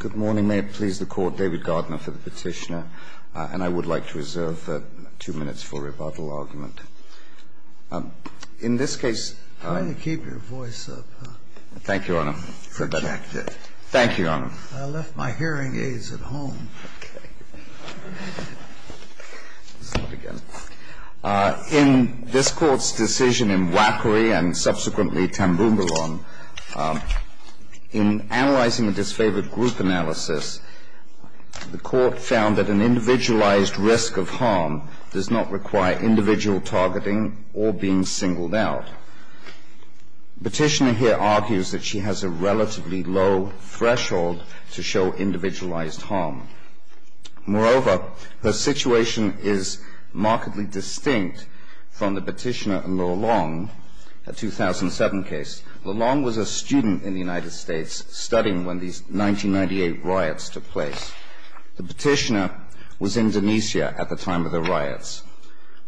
Good morning. May it please the Court, David Gardner for the petitioner, and I would like to reserve two minutes for rebuttal argument. In this case… Why don't you keep your voice up? Thank you, Your Honor. Thank you, Your Honor. I left my hearing aids at home. Okay. Let's start again. In this Court's decision in Wackery and subsequently Tambougoulon, in analyzing a disfavored group analysis, the Court found that an individualized risk of harm does not require individual targeting or being singled out. The petitioner here argues that she has a relatively low threshold to show individualized harm. Moreover, her situation is markedly distinct from the petitioner in Lelong, a 2007 case. Lelong was a student in the United States, studying when these 1998 riots took place. The petitioner was in Indonesia at the time of the riots.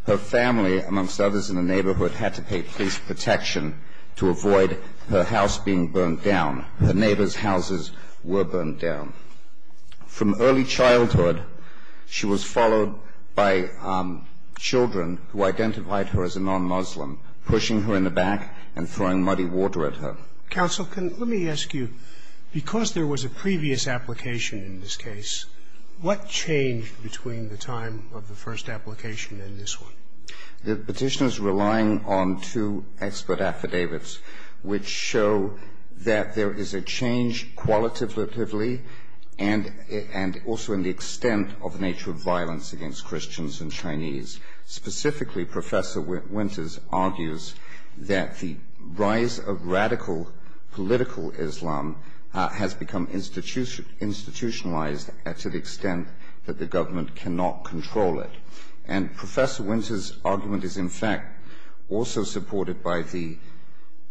Her family, amongst others in the neighborhood, had to pay police protection to avoid her house being burned down. Her neighbor's houses were burned down. From early childhood, she was followed by children who identified her as a non-Muslim, pushing her in the back and throwing muddy water at her. Counsel, can you let me ask you, because there was a previous application in this case, what changed between the time of the first application and this one? The petitioner is relying on two expert affidavits, which show that there is a change qualitatively and also in the extent of the nature of violence against Christians and Chinese. Specifically, Professor Winters argues that the rise of radical political Islam has become institutionalized to the extent that the government cannot control it. And Professor Winters' argument is, in fact, also supported by the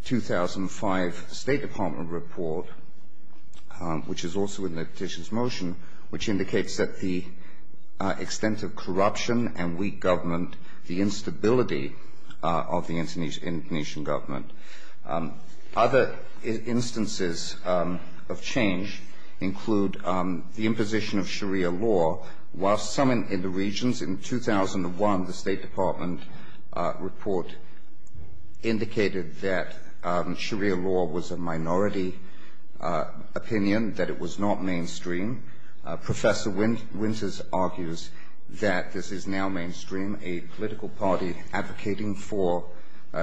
2005 State Department report, which is also in the petition's motion, which indicates that the extent of corruption and weak government, the instability of the Indonesian government. Other instances of change include the imposition of Sharia law, while some in the regions. In 2001, the State Department report indicated that Sharia law was a minority opinion, that it was not mainstream. Professor Winters argues that this is now mainstream. A political party advocating for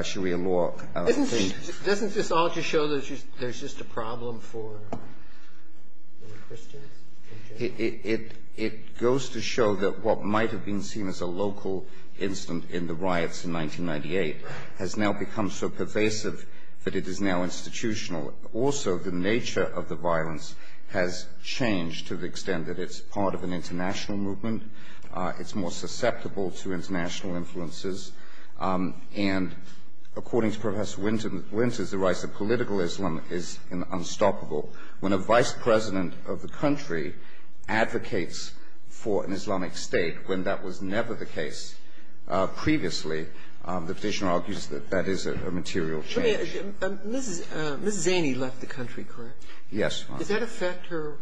Sharia law. Doesn't this all just show that there's just a problem for Christians? It goes to show that what might have been seen as a local incident in the riots in 1998 has now become so pervasive that it is now institutional. Also, the nature of the violence has changed to the extent that it's part of an international movement. It's more susceptible to international influences. And according to Professor Winters, the rise of political Islam is unstoppable. When a vice president of the country advocates for an Islamic state when that was never the case previously, the petitioner argues that that is a material change. Ms. Zaney left the country, correct? Yes, Your Honor. Does that affect her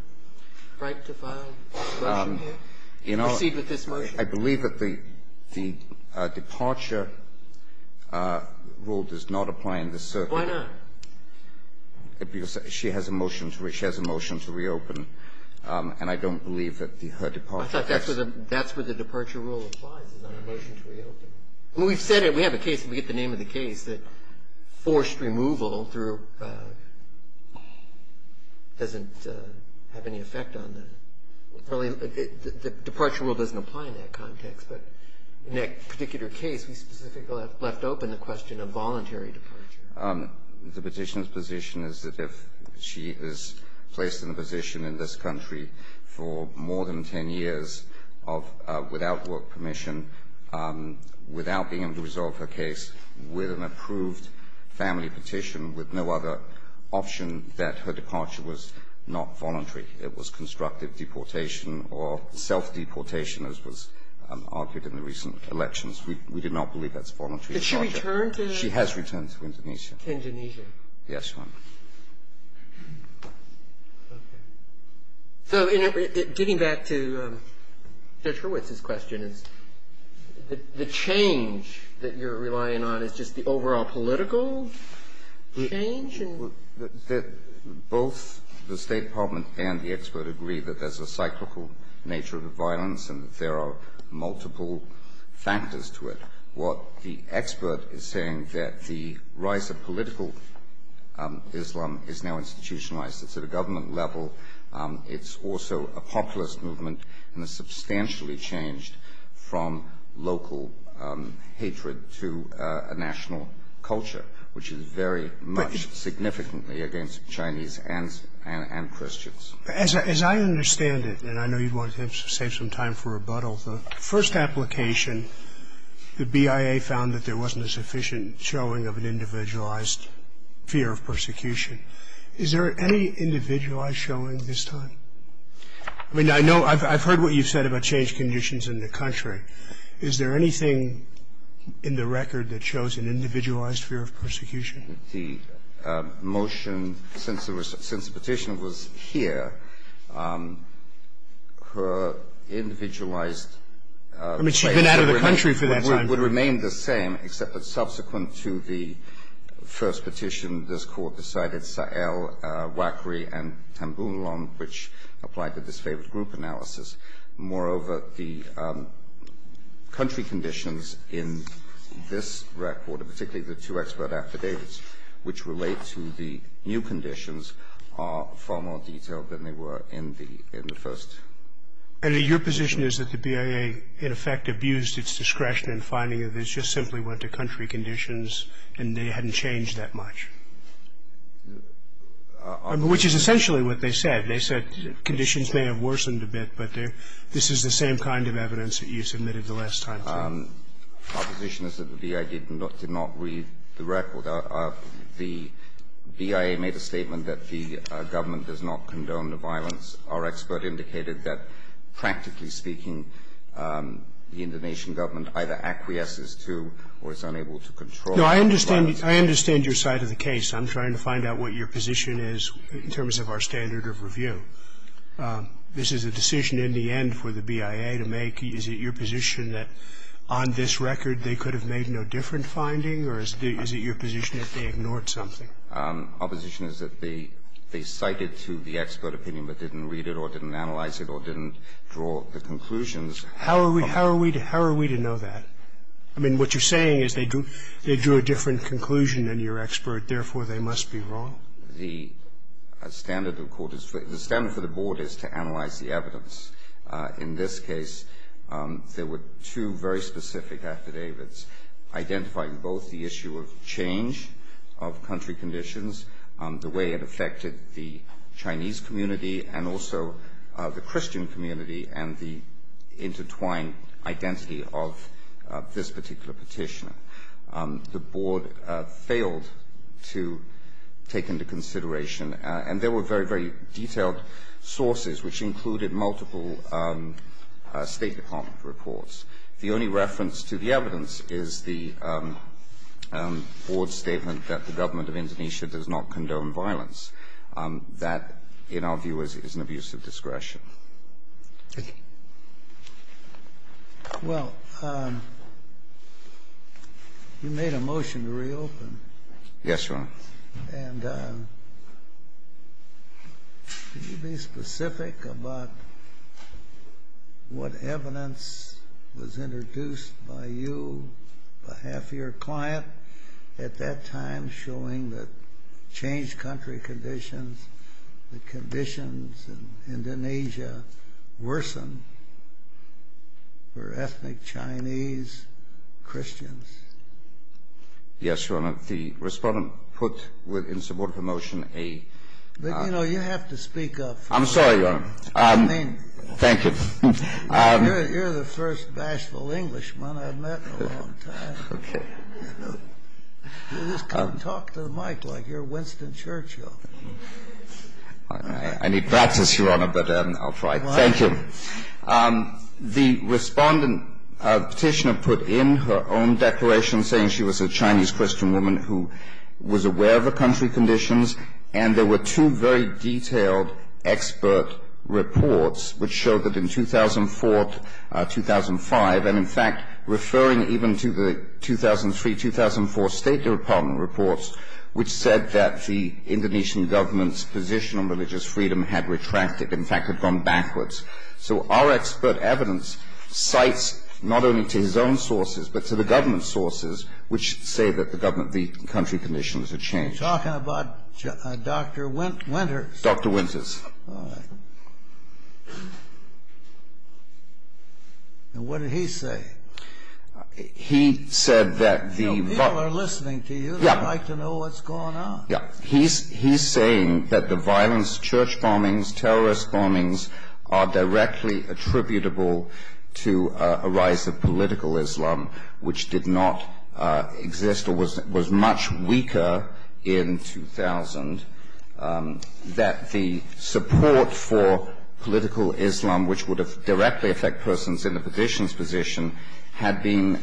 right to file a motion here, to proceed with this motion? I believe that the departure rule does not apply in this circuit. Why not? Because she has a motion to reopen, and I don't believe that her departure rule applies. I thought that's where the departure rule applies, is on a motion to reopen. We've said it. We have a case, and we get the name of the case, that forced removal doesn't have any effect on that. The departure rule doesn't apply in that context. But in that particular case, we specifically left open the question of voluntary departure. The petitioner's position is that if she is placed in a position in this country for more than 10 years without work permission, without being able to resolve her case, with an approved family petition, with no other option, that her departure was not voluntary. It was constructive deportation or self-deportation, as was argued in the recent elections. We did not believe that's voluntary departure. Did she return to the ---- She has returned to Indonesia. To Indonesia. Yes, Your Honor. Okay. So getting back to Judge Hurwitz's question, the change that you're relying on is just the overall political change? Both the State Department and the expert agree that there's a cyclical nature to violence and that there are multiple factors to it. What the expert is saying that the rise of political Islam is now institutionalized. It's at a government level. It's also a populist movement and has substantially changed from local hatred to a national culture, which is very much significantly against Chinese and Christians. As I understand it, and I know you wanted to save some time for rebuttal, the first application, the BIA found that there wasn't a sufficient showing of an individualized fear of persecution. Is there any individualized showing this time? I mean, I know ---- I've heard what you've said about change conditions in the country. Is there anything in the record that shows an individualized fear of persecution? The motion, since the petition was here, her individualized ---- I mean, she'd been out of the country for that time. It would remain the same, except that subsequent to the first petition, this Court decided Sa'el, Wakry, and Tambunlan, which applied the disfavored group analysis. Moreover, the country conditions in this record, particularly the two expert affidavits which relate to the new conditions, are far more detailed than they were in the first. And your position is that the BIA, in effect, abused its discretion in finding that this just simply went to country conditions and they hadn't changed that much? Which is essentially what they said. They said conditions may have worsened a bit, but this is the same kind of evidence that you submitted the last time. Our position is that the BIA did not read the record. The BIA made a statement that the government does not condone the violence. Our expert indicated that, practically speaking, the Indonesian government either acquiesces to or is unable to control the violence. No, I understand your side of the case. I'm trying to find out what your position is in terms of our standard of review. This is a decision in the end for the BIA to make. Is it your position that on this record they could have made no different finding, or is it your position that they ignored something? Opposition is that they cited to the expert opinion but didn't read it or didn't analyze it or didn't draw the conclusions. How are we to know that? I mean, what you're saying is they drew a different conclusion than your expert, therefore, they must be wrong? The standard of court is for the board is to analyze the evidence. In this case, there were two very specific affidavits identifying both the issue of change of country conditions, the way it affected the Chinese community and also the Christian community, and the intertwined identity of this particular petitioner. The board failed to take into consideration, and there were very, very detailed sources, which included multiple State Department reports. The only reference to the evidence is the board's statement that the government of Indonesia does not condone violence. That, in our view, is an abuse of discretion. Thank you. Well, you made a motion to reopen. Yes, Your Honor. And can you be specific about what evidence was introduced by you on behalf of your client at that time showing that changed country conditions, the conditions in Indonesia worsen for ethnic Chinese Christians? Yes, Your Honor. The respondent put in support of the motion a... But, you know, you have to speak up. I'm sorry, Your Honor. I mean... Thank you. You're the first bashful Englishman I've met in a long time. Okay. You just can't talk to the mic like you're Winston Churchill. I need practice, Your Honor, but I'll try. Thank you. The respondent petitioner put in her own declaration saying she was a Chinese Christian woman who was aware of the country conditions, and there were two very detailed expert reports which showed that in 2004-2005, and in fact referring even to the 2003-2004 State Department reports, which said that the Indonesian government's position on religious freedom had retracted, in fact had gone backwards. So our expert evidence cites not only to his own sources but to the government's sources which say that the country conditions had changed. You're talking about Dr. Winters? Dr. Winters. All right. And what did he say? He said that the... You know, people are listening to you. They'd like to know what's going on. Yeah. He's saying that the violence, church bombings, terrorist bombings, are directly attributable to a rise of political Islam, which did not exist or was much weaker in 2000, that the support for political Islam, which would have directly affected persons in the petitioner's position, had been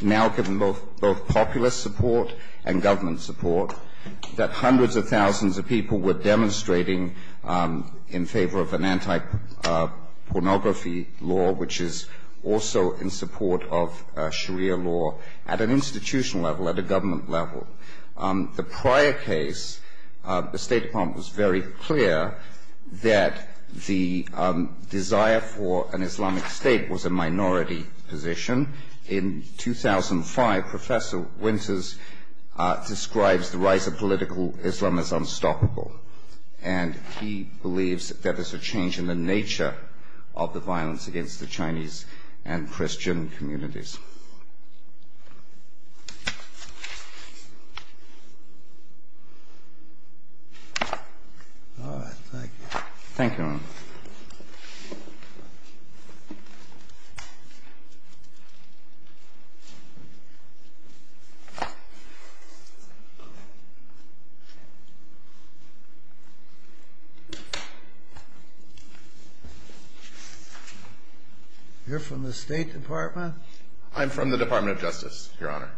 now given both populist support and government support, that hundreds of thousands of people were demonstrating in favor of an anti-pornography law, which is also in support of Sharia law at an institutional level, at a government level. The prior case, the State Department was very clear that the desire for an Islamic state was a minority position. In 2005, Professor Winters describes the rise of political Islam as unstoppable, and he believes that there's a change in the nature of the violence against the Chinese and Christian communities. All right. Thank you. Thank you. You're from the State Department? I'm from the Department of Justice, Your Honor.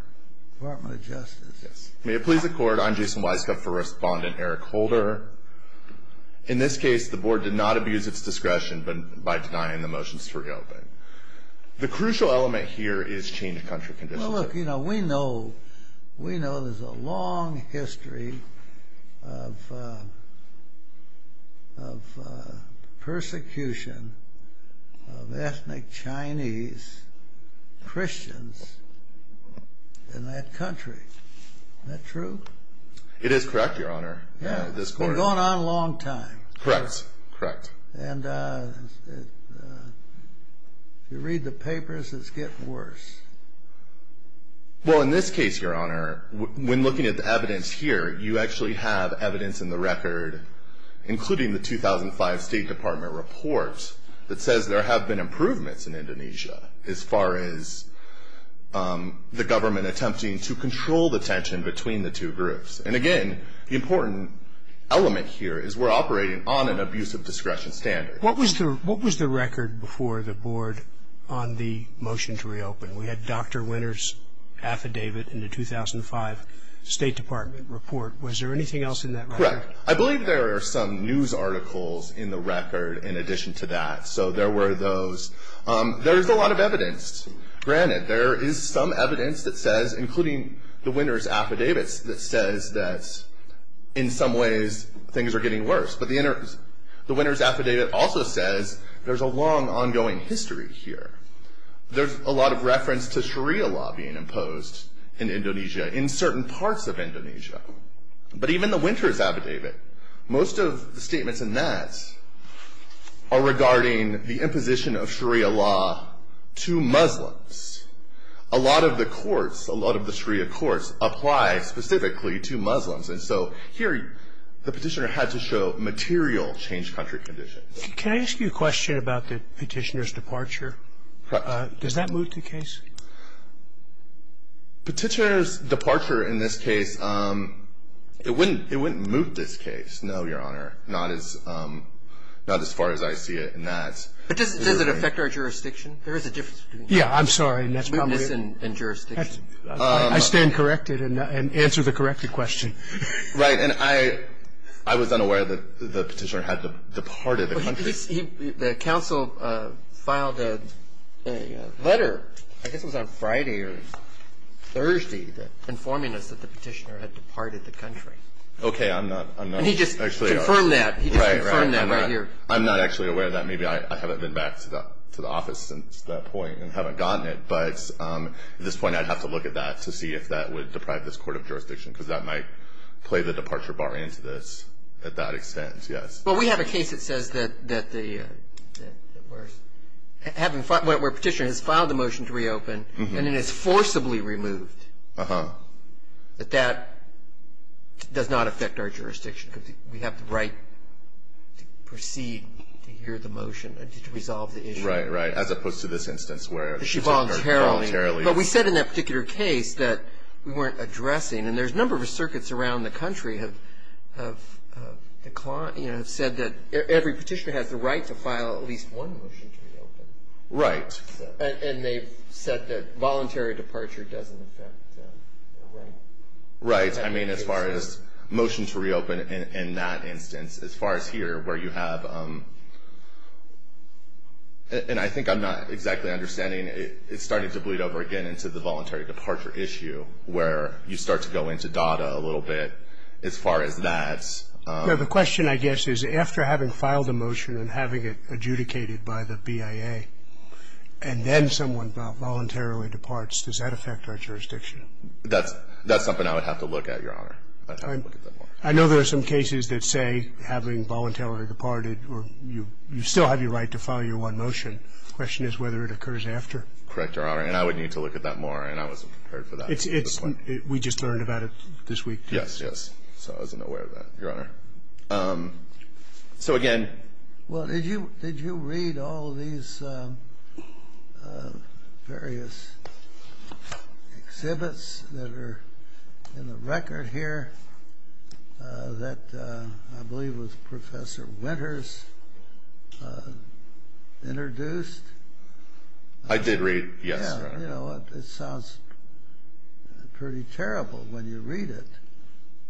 Department of Justice. Yes. May it please the Court, I'm Jason Weiskopf for Respondent Eric Holder. In this case, the Board did not abuse its discretion by denying the motions to reopen. The crucial element here is change of country conditions. Well, look, you know, we know there's a long history of persecution of ethnic Chinese Christians in that country. Isn't that true? It is correct, Your Honor. Yeah. It's been going on a long time. Correct. Correct. And if you read the papers, it's getting worse. Well, in this case, Your Honor, when looking at the evidence here, you actually have evidence in the record, including the 2005 State Department report that says there have been improvements in Indonesia as far as the government attempting to control the tension between the two groups. And again, the important element here is we're operating on an abuse of discretion standard. What was the record before the Board on the motion to reopen? We had Dr. Winter's affidavit in the 2005 State Department report. Was there anything else in that record? Correct. I believe there are some news articles in the record in addition to that. So there were those. There is a lot of evidence. Granted, there is some evidence that says, including the Winter's affidavit, that says that in some ways things are getting worse. But the Winter's affidavit also says there's a long ongoing history here. There's a lot of reference to Sharia law being imposed in Indonesia in certain parts of Indonesia. But even the Winter's affidavit, most of the statements in that are regarding the imposition of Sharia law to Muslims. A lot of the courts, a lot of the Sharia courts, apply specifically to Muslims. And so here the petitioner had to show material changed country conditions. Can I ask you a question about the petitioner's departure? Does that moot the case? Petitioner's departure in this case, it wouldn't moot this case, no, Your Honor. Not as far as I see it in that. But does it affect our jurisdiction? There is a difference between mootness and jurisdiction. I stand corrected and answer the corrected question. Right. And I was unaware that the petitioner had departed the country. The counsel filed a letter, I guess it was on Friday or Thursday, informing us that the petitioner had departed the country. Okay. I'm not actually aware. And he just confirmed that. He just confirmed that right here. Right. I haven't been back to the office since that point and haven't gotten it. But at this point I'd have to look at that to see if that would deprive this court of jurisdiction because that might play the departure bar into this at that extent, yes. Well, we have a case that says that the petitioner has filed a motion to reopen and it is forcibly removed. Uh-huh. But that does not affect our jurisdiction because we have the right to proceed to hear the motion and to resolve the issue. Right, right. As opposed to this instance where she voluntarily. She voluntarily. But we said in that particular case that we weren't addressing and there's a number of circuits around the country have said that every petitioner has the right to file at least one motion to reopen. Right. And they've said that voluntary departure doesn't affect their right. Right. I mean, as far as motion to reopen in that instance, as far as here where you have, and I think I'm not exactly understanding, it's starting to bleed over again into the voluntary departure issue where you start to go into data a little bit as far as that. The question, I guess, is after having filed a motion and having it adjudicated by the BIA and then someone voluntarily departs, does that affect our jurisdiction? That's something I would have to look at, Your Honor. I'd have to look at that more. I know there are some cases that say having voluntarily departed or you still have your right to file your one motion. The question is whether it occurs after. Correct, Your Honor. And I would need to look at that more, and I wasn't prepared for that. We just learned about it this week. Yes, yes. So I wasn't aware of that, Your Honor. So, again. Well, did you read all these various exhibits that are in the record here that I believe was Professor Winters introduced? I did read, yes, Your Honor. You know, it sounds pretty terrible when you read it,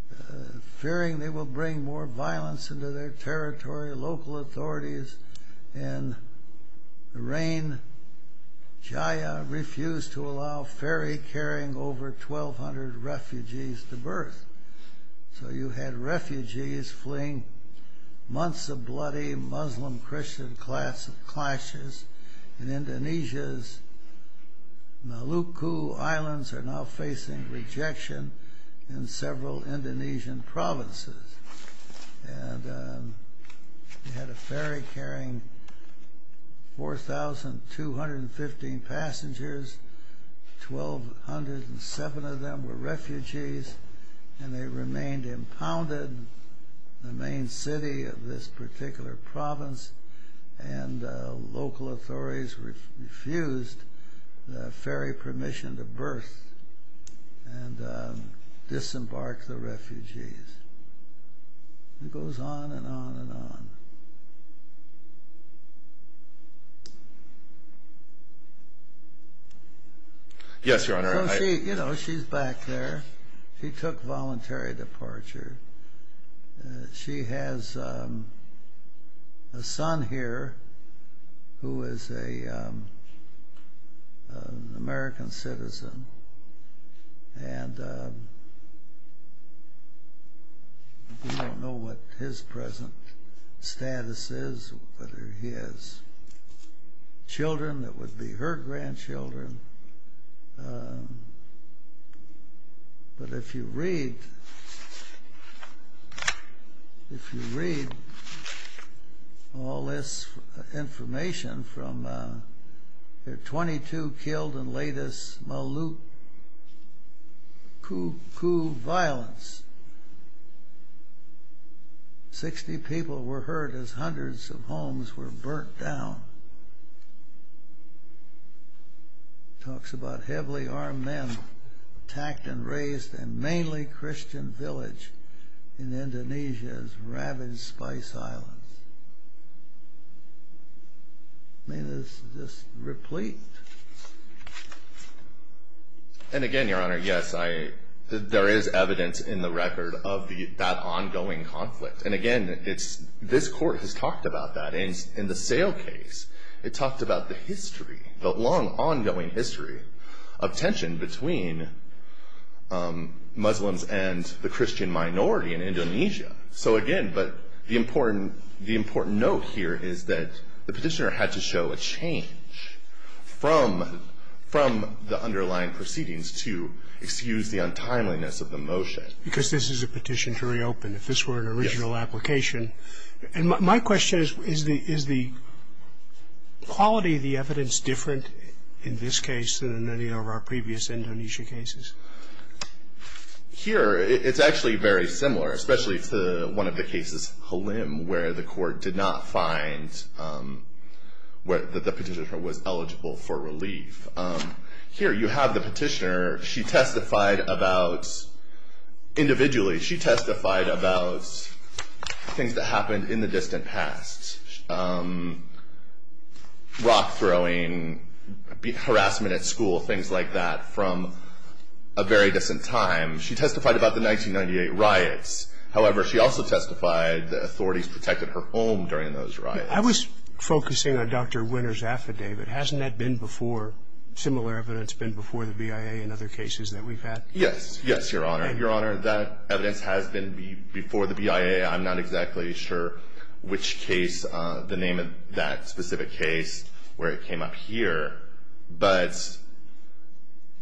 but they're saying they will bring more violence into their territory. Local authorities in the reign of Jaya refused to allow ferry carrying over 1,200 refugees to berth. So you had refugees fleeing months of bloody Muslim-Christian clashes and Indonesia's Maluku Islands are now facing rejection in several Indonesian provinces. And you had a ferry carrying 4,215 passengers, 1,207 of them were refugees, and they remained impounded. And you had the main city of this particular province and local authorities refused the ferry permission to berth and disembark the refugees. It goes on and on and on. Yes, Your Honor. You know, she's back there. She took voluntary departure. She has a son here who is an American citizen. And we don't know what his present status is, whether he has children that would be her grandchildren. But if you read all this information from their 22 killed in latest Maluku coup violence, 60 people were hurt as hundreds of homes were burnt down. Talks about heavily armed men attacked and raised in mainly Christian village in Indonesia's ravaged Spice Islands. And again, Your Honor, yes, there is evidence in the record of that ongoing conflict. And again, this court has talked about that. In the sale case, it talked about the history, the long ongoing history, of tension between Muslims and the Christian minority in Indonesia. So again, but the important note here is that the petitioner had to show a change from the underlying proceedings to excuse the untimeliness of the motion. Because this is a petition to reopen, if this were an original application. Yes. And my question is, is the quality of the evidence different in this case than in any of our previous Indonesia cases? Here, it's actually very similar, especially to one of the cases, Halim, where the court did not find that the petitioner was eligible for relief. Here, you have the petitioner. She testified about, individually, she testified about things that happened in the distant past. Rock throwing, harassment at school, things like that from a very distant time. She testified about the 1998 riots. However, she also testified that authorities protected her home during those riots. I was focusing on Dr. Winner's affidavit. Hasn't that been before? Similar evidence been before the BIA in other cases that we've had? Yes. Yes, Your Honor. Your Honor, that evidence has been before the BIA. I'm not exactly sure which case, the name of that specific case, where it came up here. But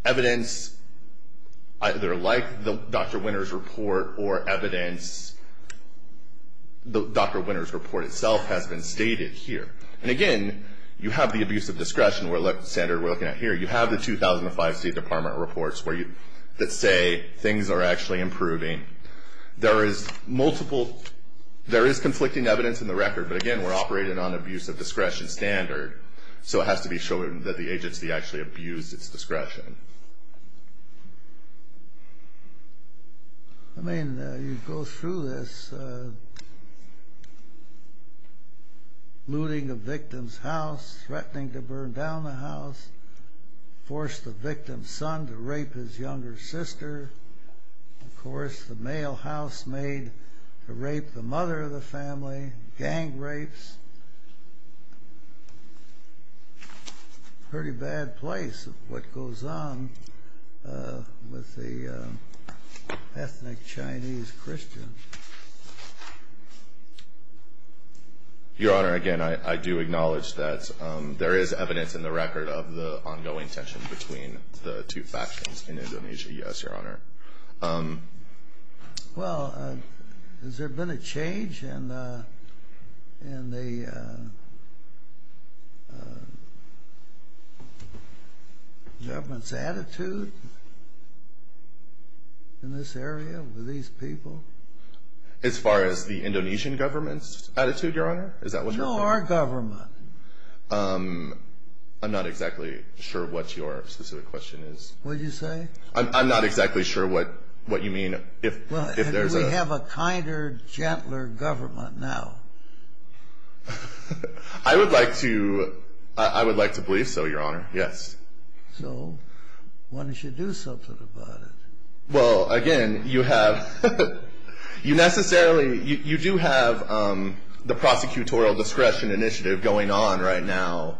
evidence either like Dr. Winner's report or evidence, Dr. Winner's report itself has been stated here. And again, you have the abuse of discretion standard we're looking at here. You have the 2005 State Department reports that say things are actually improving. There is multiple, there is conflicting evidence in the record. But again, we're operating on abuse of discretion standard. So it has to be shown that the agency actually abused its discretion. I mean, you go through this, looting a victim's house, threatening to burn down the house, forced the victim's son to rape his younger sister. Of course, the mail house made to rape the mother of the family, gang rapes. It's a pretty bad place, what goes on with the ethnic Chinese Christian. Your Honor, again, I do acknowledge that there is evidence in the record of the ongoing tension between the two factions in Indonesia, yes, Your Honor. Well, has there been a change in the government's attitude in this area with these people? As far as the Indonesian government's attitude, Your Honor? No, our government. I'm not exactly sure what your specific question is. What did you say? I'm not exactly sure what you mean. Well, do we have a kinder, gentler government now? I would like to believe so, Your Honor, yes. So why don't you do something about it? Well, again, you have, you necessarily, you do have the prosecutorial discretion initiative going on right now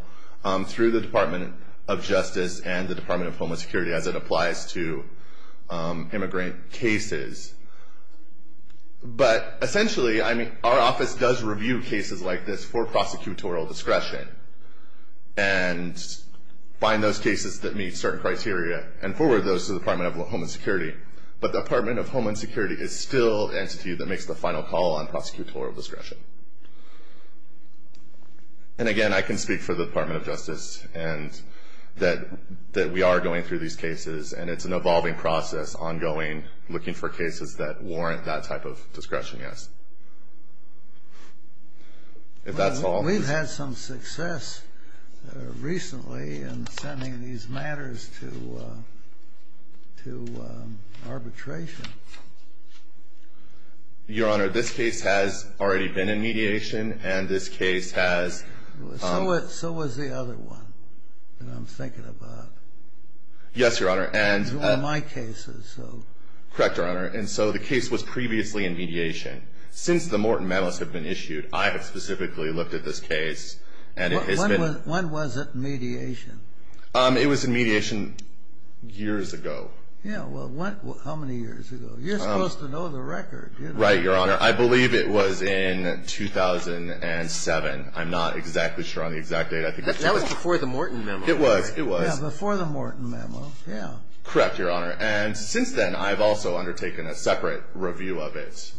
through the Department of Justice and the Department of Homeland Security as it applies to immigrant cases. But essentially, I mean, our office does review cases like this for prosecutorial discretion and find those cases that meet certain criteria and forward those to the Department of Homeland Security. But the Department of Homeland Security is still the entity that makes the final call on prosecutorial discretion. And again, I can speak for the Department of Justice and that we are going through these cases and it's an evolving process, ongoing, looking for cases that warrant that type of discretion, yes. If that's all. We've had some success recently in sending these matters to arbitration. Your Honor, this case has already been in mediation and this case has... So has the other one that I'm thinking about. Yes, Your Honor, and... It's one of my cases, so... Correct, Your Honor. And so the case was previously in mediation. Since the Morton memos have been issued, I have specifically looked at this case and it has been... When was it in mediation? It was in mediation years ago. Yeah, well, how many years ago? You're supposed to know the record. Right, Your Honor. I believe it was in 2007. I'm not exactly sure on the exact date. That was before the Morton memo. It was, it was. Yeah, before the Morton memo, yeah. Correct, Your Honor. And since then, I've also undertaken a separate review of it.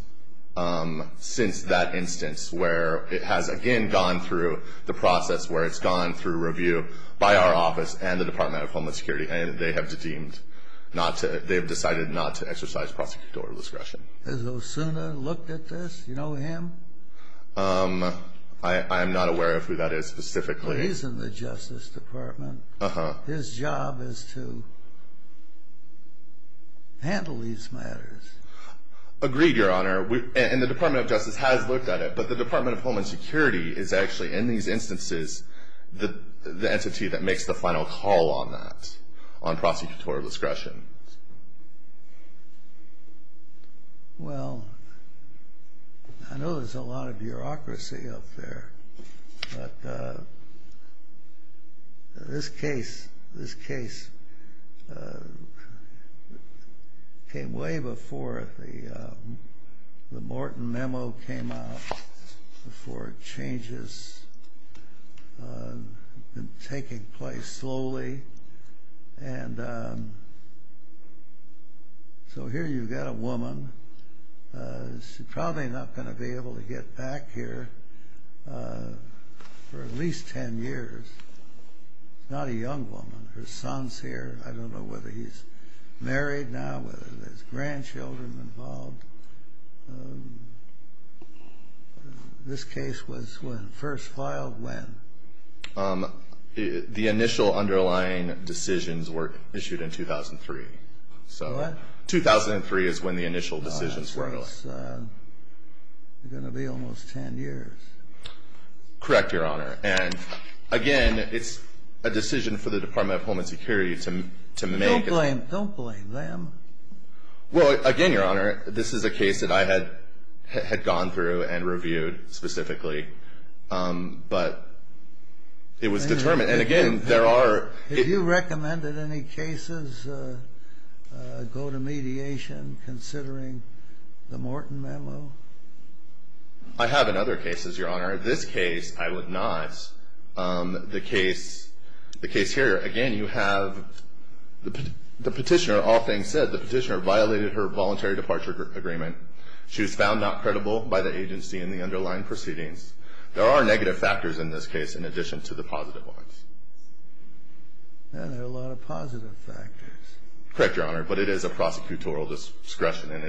Since that instance where it has again gone through the process where it's gone through review by our office and the Department of Homeless Security. And they have deemed not to, they've decided not to exercise prosecutor discretion. Has Osuna looked at this? Do you know him? I am not aware of who that is specifically. He's in the Justice Department. His job is to handle these matters. Agreed, Your Honor. And the Department of Justice has looked at it. But the Department of Homeless Security is actually in these instances the entity that makes the final call on that, on prosecutor discretion. Well, I know there's a lot of bureaucracy out there. But this case, this case came way before the Morton memo came out. Before it changes, taking place slowly. And so here you've got a woman. She's probably not going to be able to get back here for at least 10 years. It's not a young woman. Her son's here. I don't know whether he's married now, whether there's grandchildren involved. This case was first filed when? The initial underlying decisions were issued in 2003. What? 2003 is when the initial decisions were. So it's going to be almost 10 years. Correct, Your Honor. And, again, it's a decision for the Department of Homeland Security to make. Don't blame them. Well, again, Your Honor, this is a case that I had gone through and reviewed specifically. But it was determined. And, again, there are... Have you recommended any cases go to mediation considering the Morton memo? I have in other cases, Your Honor. This case, I would not. The case here, again, you have the petitioner, all things said, the petitioner violated her voluntary departure agreement. She was found not credible by the agency in the underlying proceedings. There are negative factors in this case in addition to the positive ones. There are a lot of positive factors. Correct, Your Honor. But it is a prosecutorial discretion, and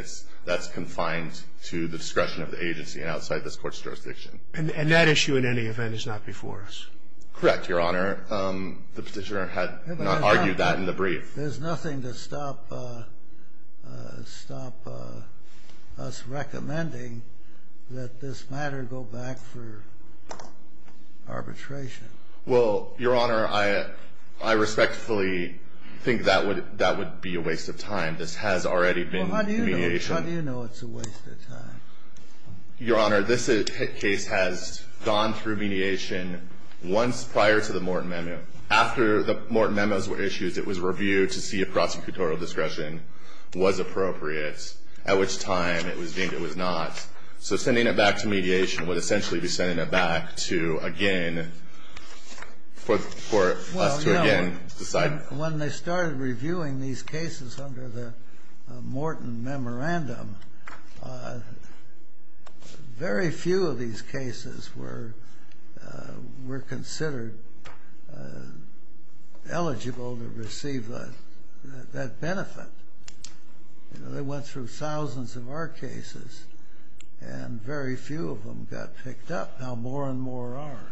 that's confined to the discretion of the agency and outside this court's jurisdiction. And that issue, in any event, is not before us. Correct, Your Honor. The petitioner had argued that in the brief. There's nothing to stop us recommending that this matter go back for arbitration. Well, Your Honor, I respectfully think that would be a waste of time. This has already been mediation. How do you know it's a waste of time? Your Honor, this case has gone through mediation once prior to the Morton memo. After the Morton memos were issued, it was reviewed to see if prosecutorial discretion was appropriate, at which time it was deemed it was not. So sending it back to mediation would essentially be sending it back to, again, for us to, again, decide. When they started reviewing these cases under the Morton memorandum, very few of these cases were considered eligible to receive that benefit. They went through thousands of our cases, and very few of them got picked up. Now, more and more are.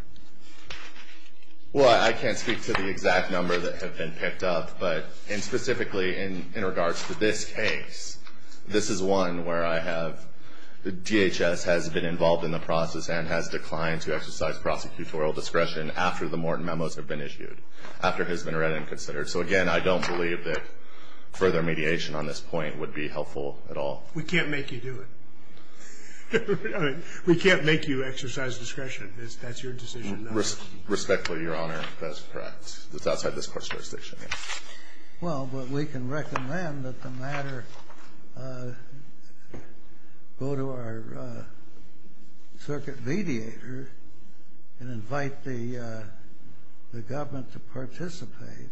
Well, I can't speak to the exact number that have been picked up, but specifically in regards to this case, this is one where I have the DHS has been involved in the process and has declined to exercise prosecutorial discretion after the Morton memos have been issued, after it has been read and considered. So, again, I don't believe that further mediation on this point would be helpful at all. We can't make you do it. We can't make you exercise discretion. That's your decision. Respectfully, Your Honor, that's correct. It's outside this Court's jurisdiction. Well, but we can recommend that the matter go to our circuit mediator and invite the government to participate.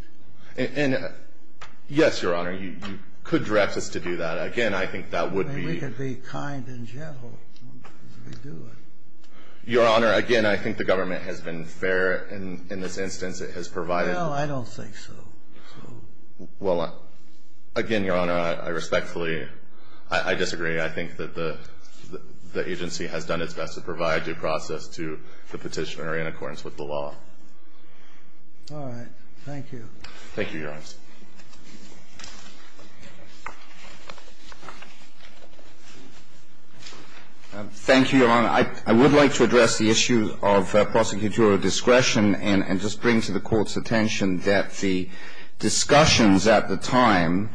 Yes, Your Honor. You could direct us to do that. Again, I think that would be... We could be kind and gentle as we do it. Your Honor, again, I think the government has been fair in this instance. It has provided... Well, I don't think so. Well, again, Your Honor, I respectfully, I disagree. I think that the agency has done its best to provide due process to the petitioner in accordance with the law. All right. Thank you. Thank you, Your Honor. Thank you, Your Honor. And I would like to address the issue of prosecutorial discretion and just bring to the Court's attention that the discussions at the time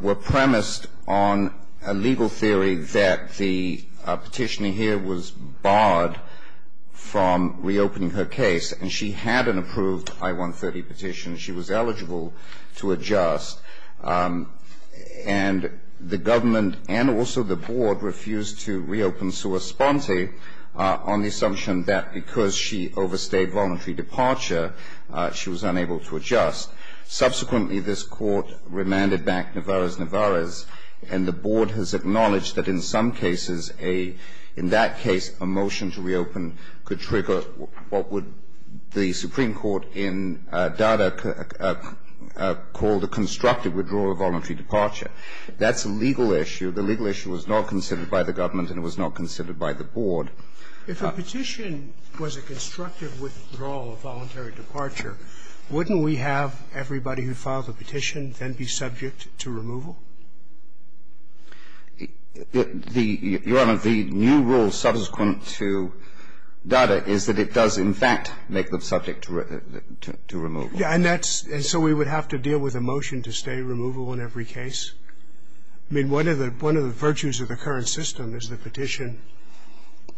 were premised on a legal theory that the petitioner here was barred from reopening her case, and she had an approved I-130 petition. She was eligible to adjust. And the government and also the Board refused to reopen Sua Sponti on the assumption that because she overstayed voluntary departure, she was unable to adjust. Subsequently, this Court remanded back Nevarez-Nevarez, and the Board has acknowledged that in some cases, in that case, a motion to reopen could trigger what would the Supreme Court in Dada call the constructive withdrawal of voluntary departure. That's a legal issue. The legal issue was not considered by the government and it was not considered by the Board. If a petition was a constructive withdrawal of voluntary departure, wouldn't we have everybody who filed the petition then be subject to removal? Your Honor, the new rule subsequent to Dada is that it does in fact make them subject to removal. And that's so we would have to deal with a motion to stay removal in every case. I mean, one of the virtues of the current system is the petition.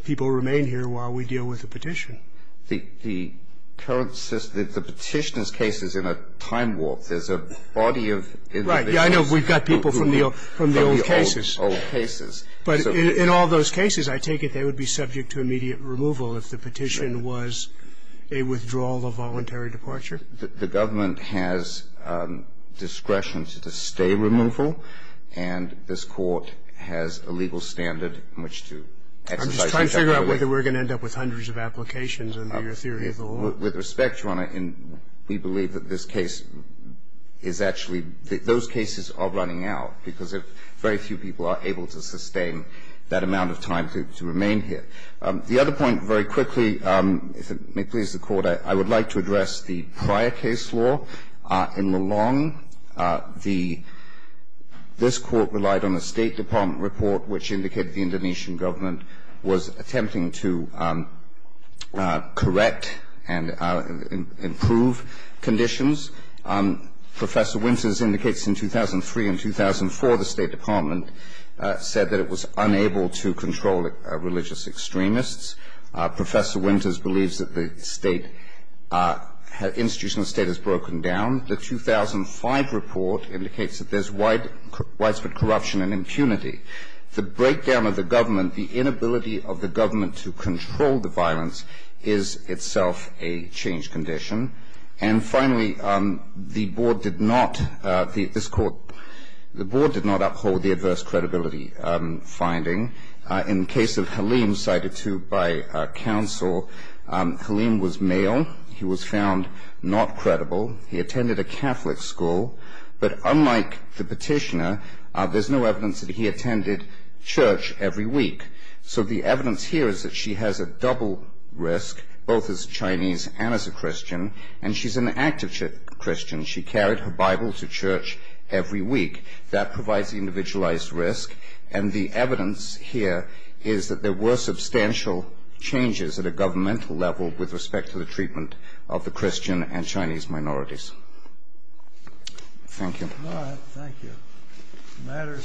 People remain here while we deal with the petition. The current system, the petitioner's case is in a time warp. There's a body of individuals. Right. I know we've got people from the old cases. From the old cases. But in all those cases, I take it they would be subject to immediate removal if the petition was a withdrawal of voluntary departure. The government has discretion to stay removal and this Court has a legal standard in which to exercise that. I'm just trying to figure out whether we're going to end up with hundreds of applications under your theory of the law. With respect, Your Honor, we believe that this case is actually – those cases are running out because very few people are able to sustain that amount of time to remain here. The other point, very quickly, if it may please the Court, I would like to address the prior case law. In the long – this Court relied on a State Department report which indicated the Indonesian government was attempting to correct and improve conditions. Professor Winters indicates in 2003 and 2004 the State Department said that it was unable to control religious extremists. Professor Winters believes that the State – institution of the State has broken down. The 2005 report indicates that there's widespread corruption and impunity. The breakdown of the government, the inability of the government to control the violence is itself a changed condition. And finally, the Board did not – this Court – the Board did not uphold the adverse credibility finding. In the case of Halim, cited too by counsel, Halim was male. He was found not credible. He attended a Catholic school. But unlike the petitioner, there's no evidence that he attended church every week. So the evidence here is that she has a double risk, both as Chinese and as a Christian, and she's an active Christian. She carried her Bible to church every week. That provides the individualized risk. And the evidence here is that there were substantial changes at a governmental level with respect to the treatment of the Christian and Chinese minorities. Thank you. All right. Thank you. The matter is submitted.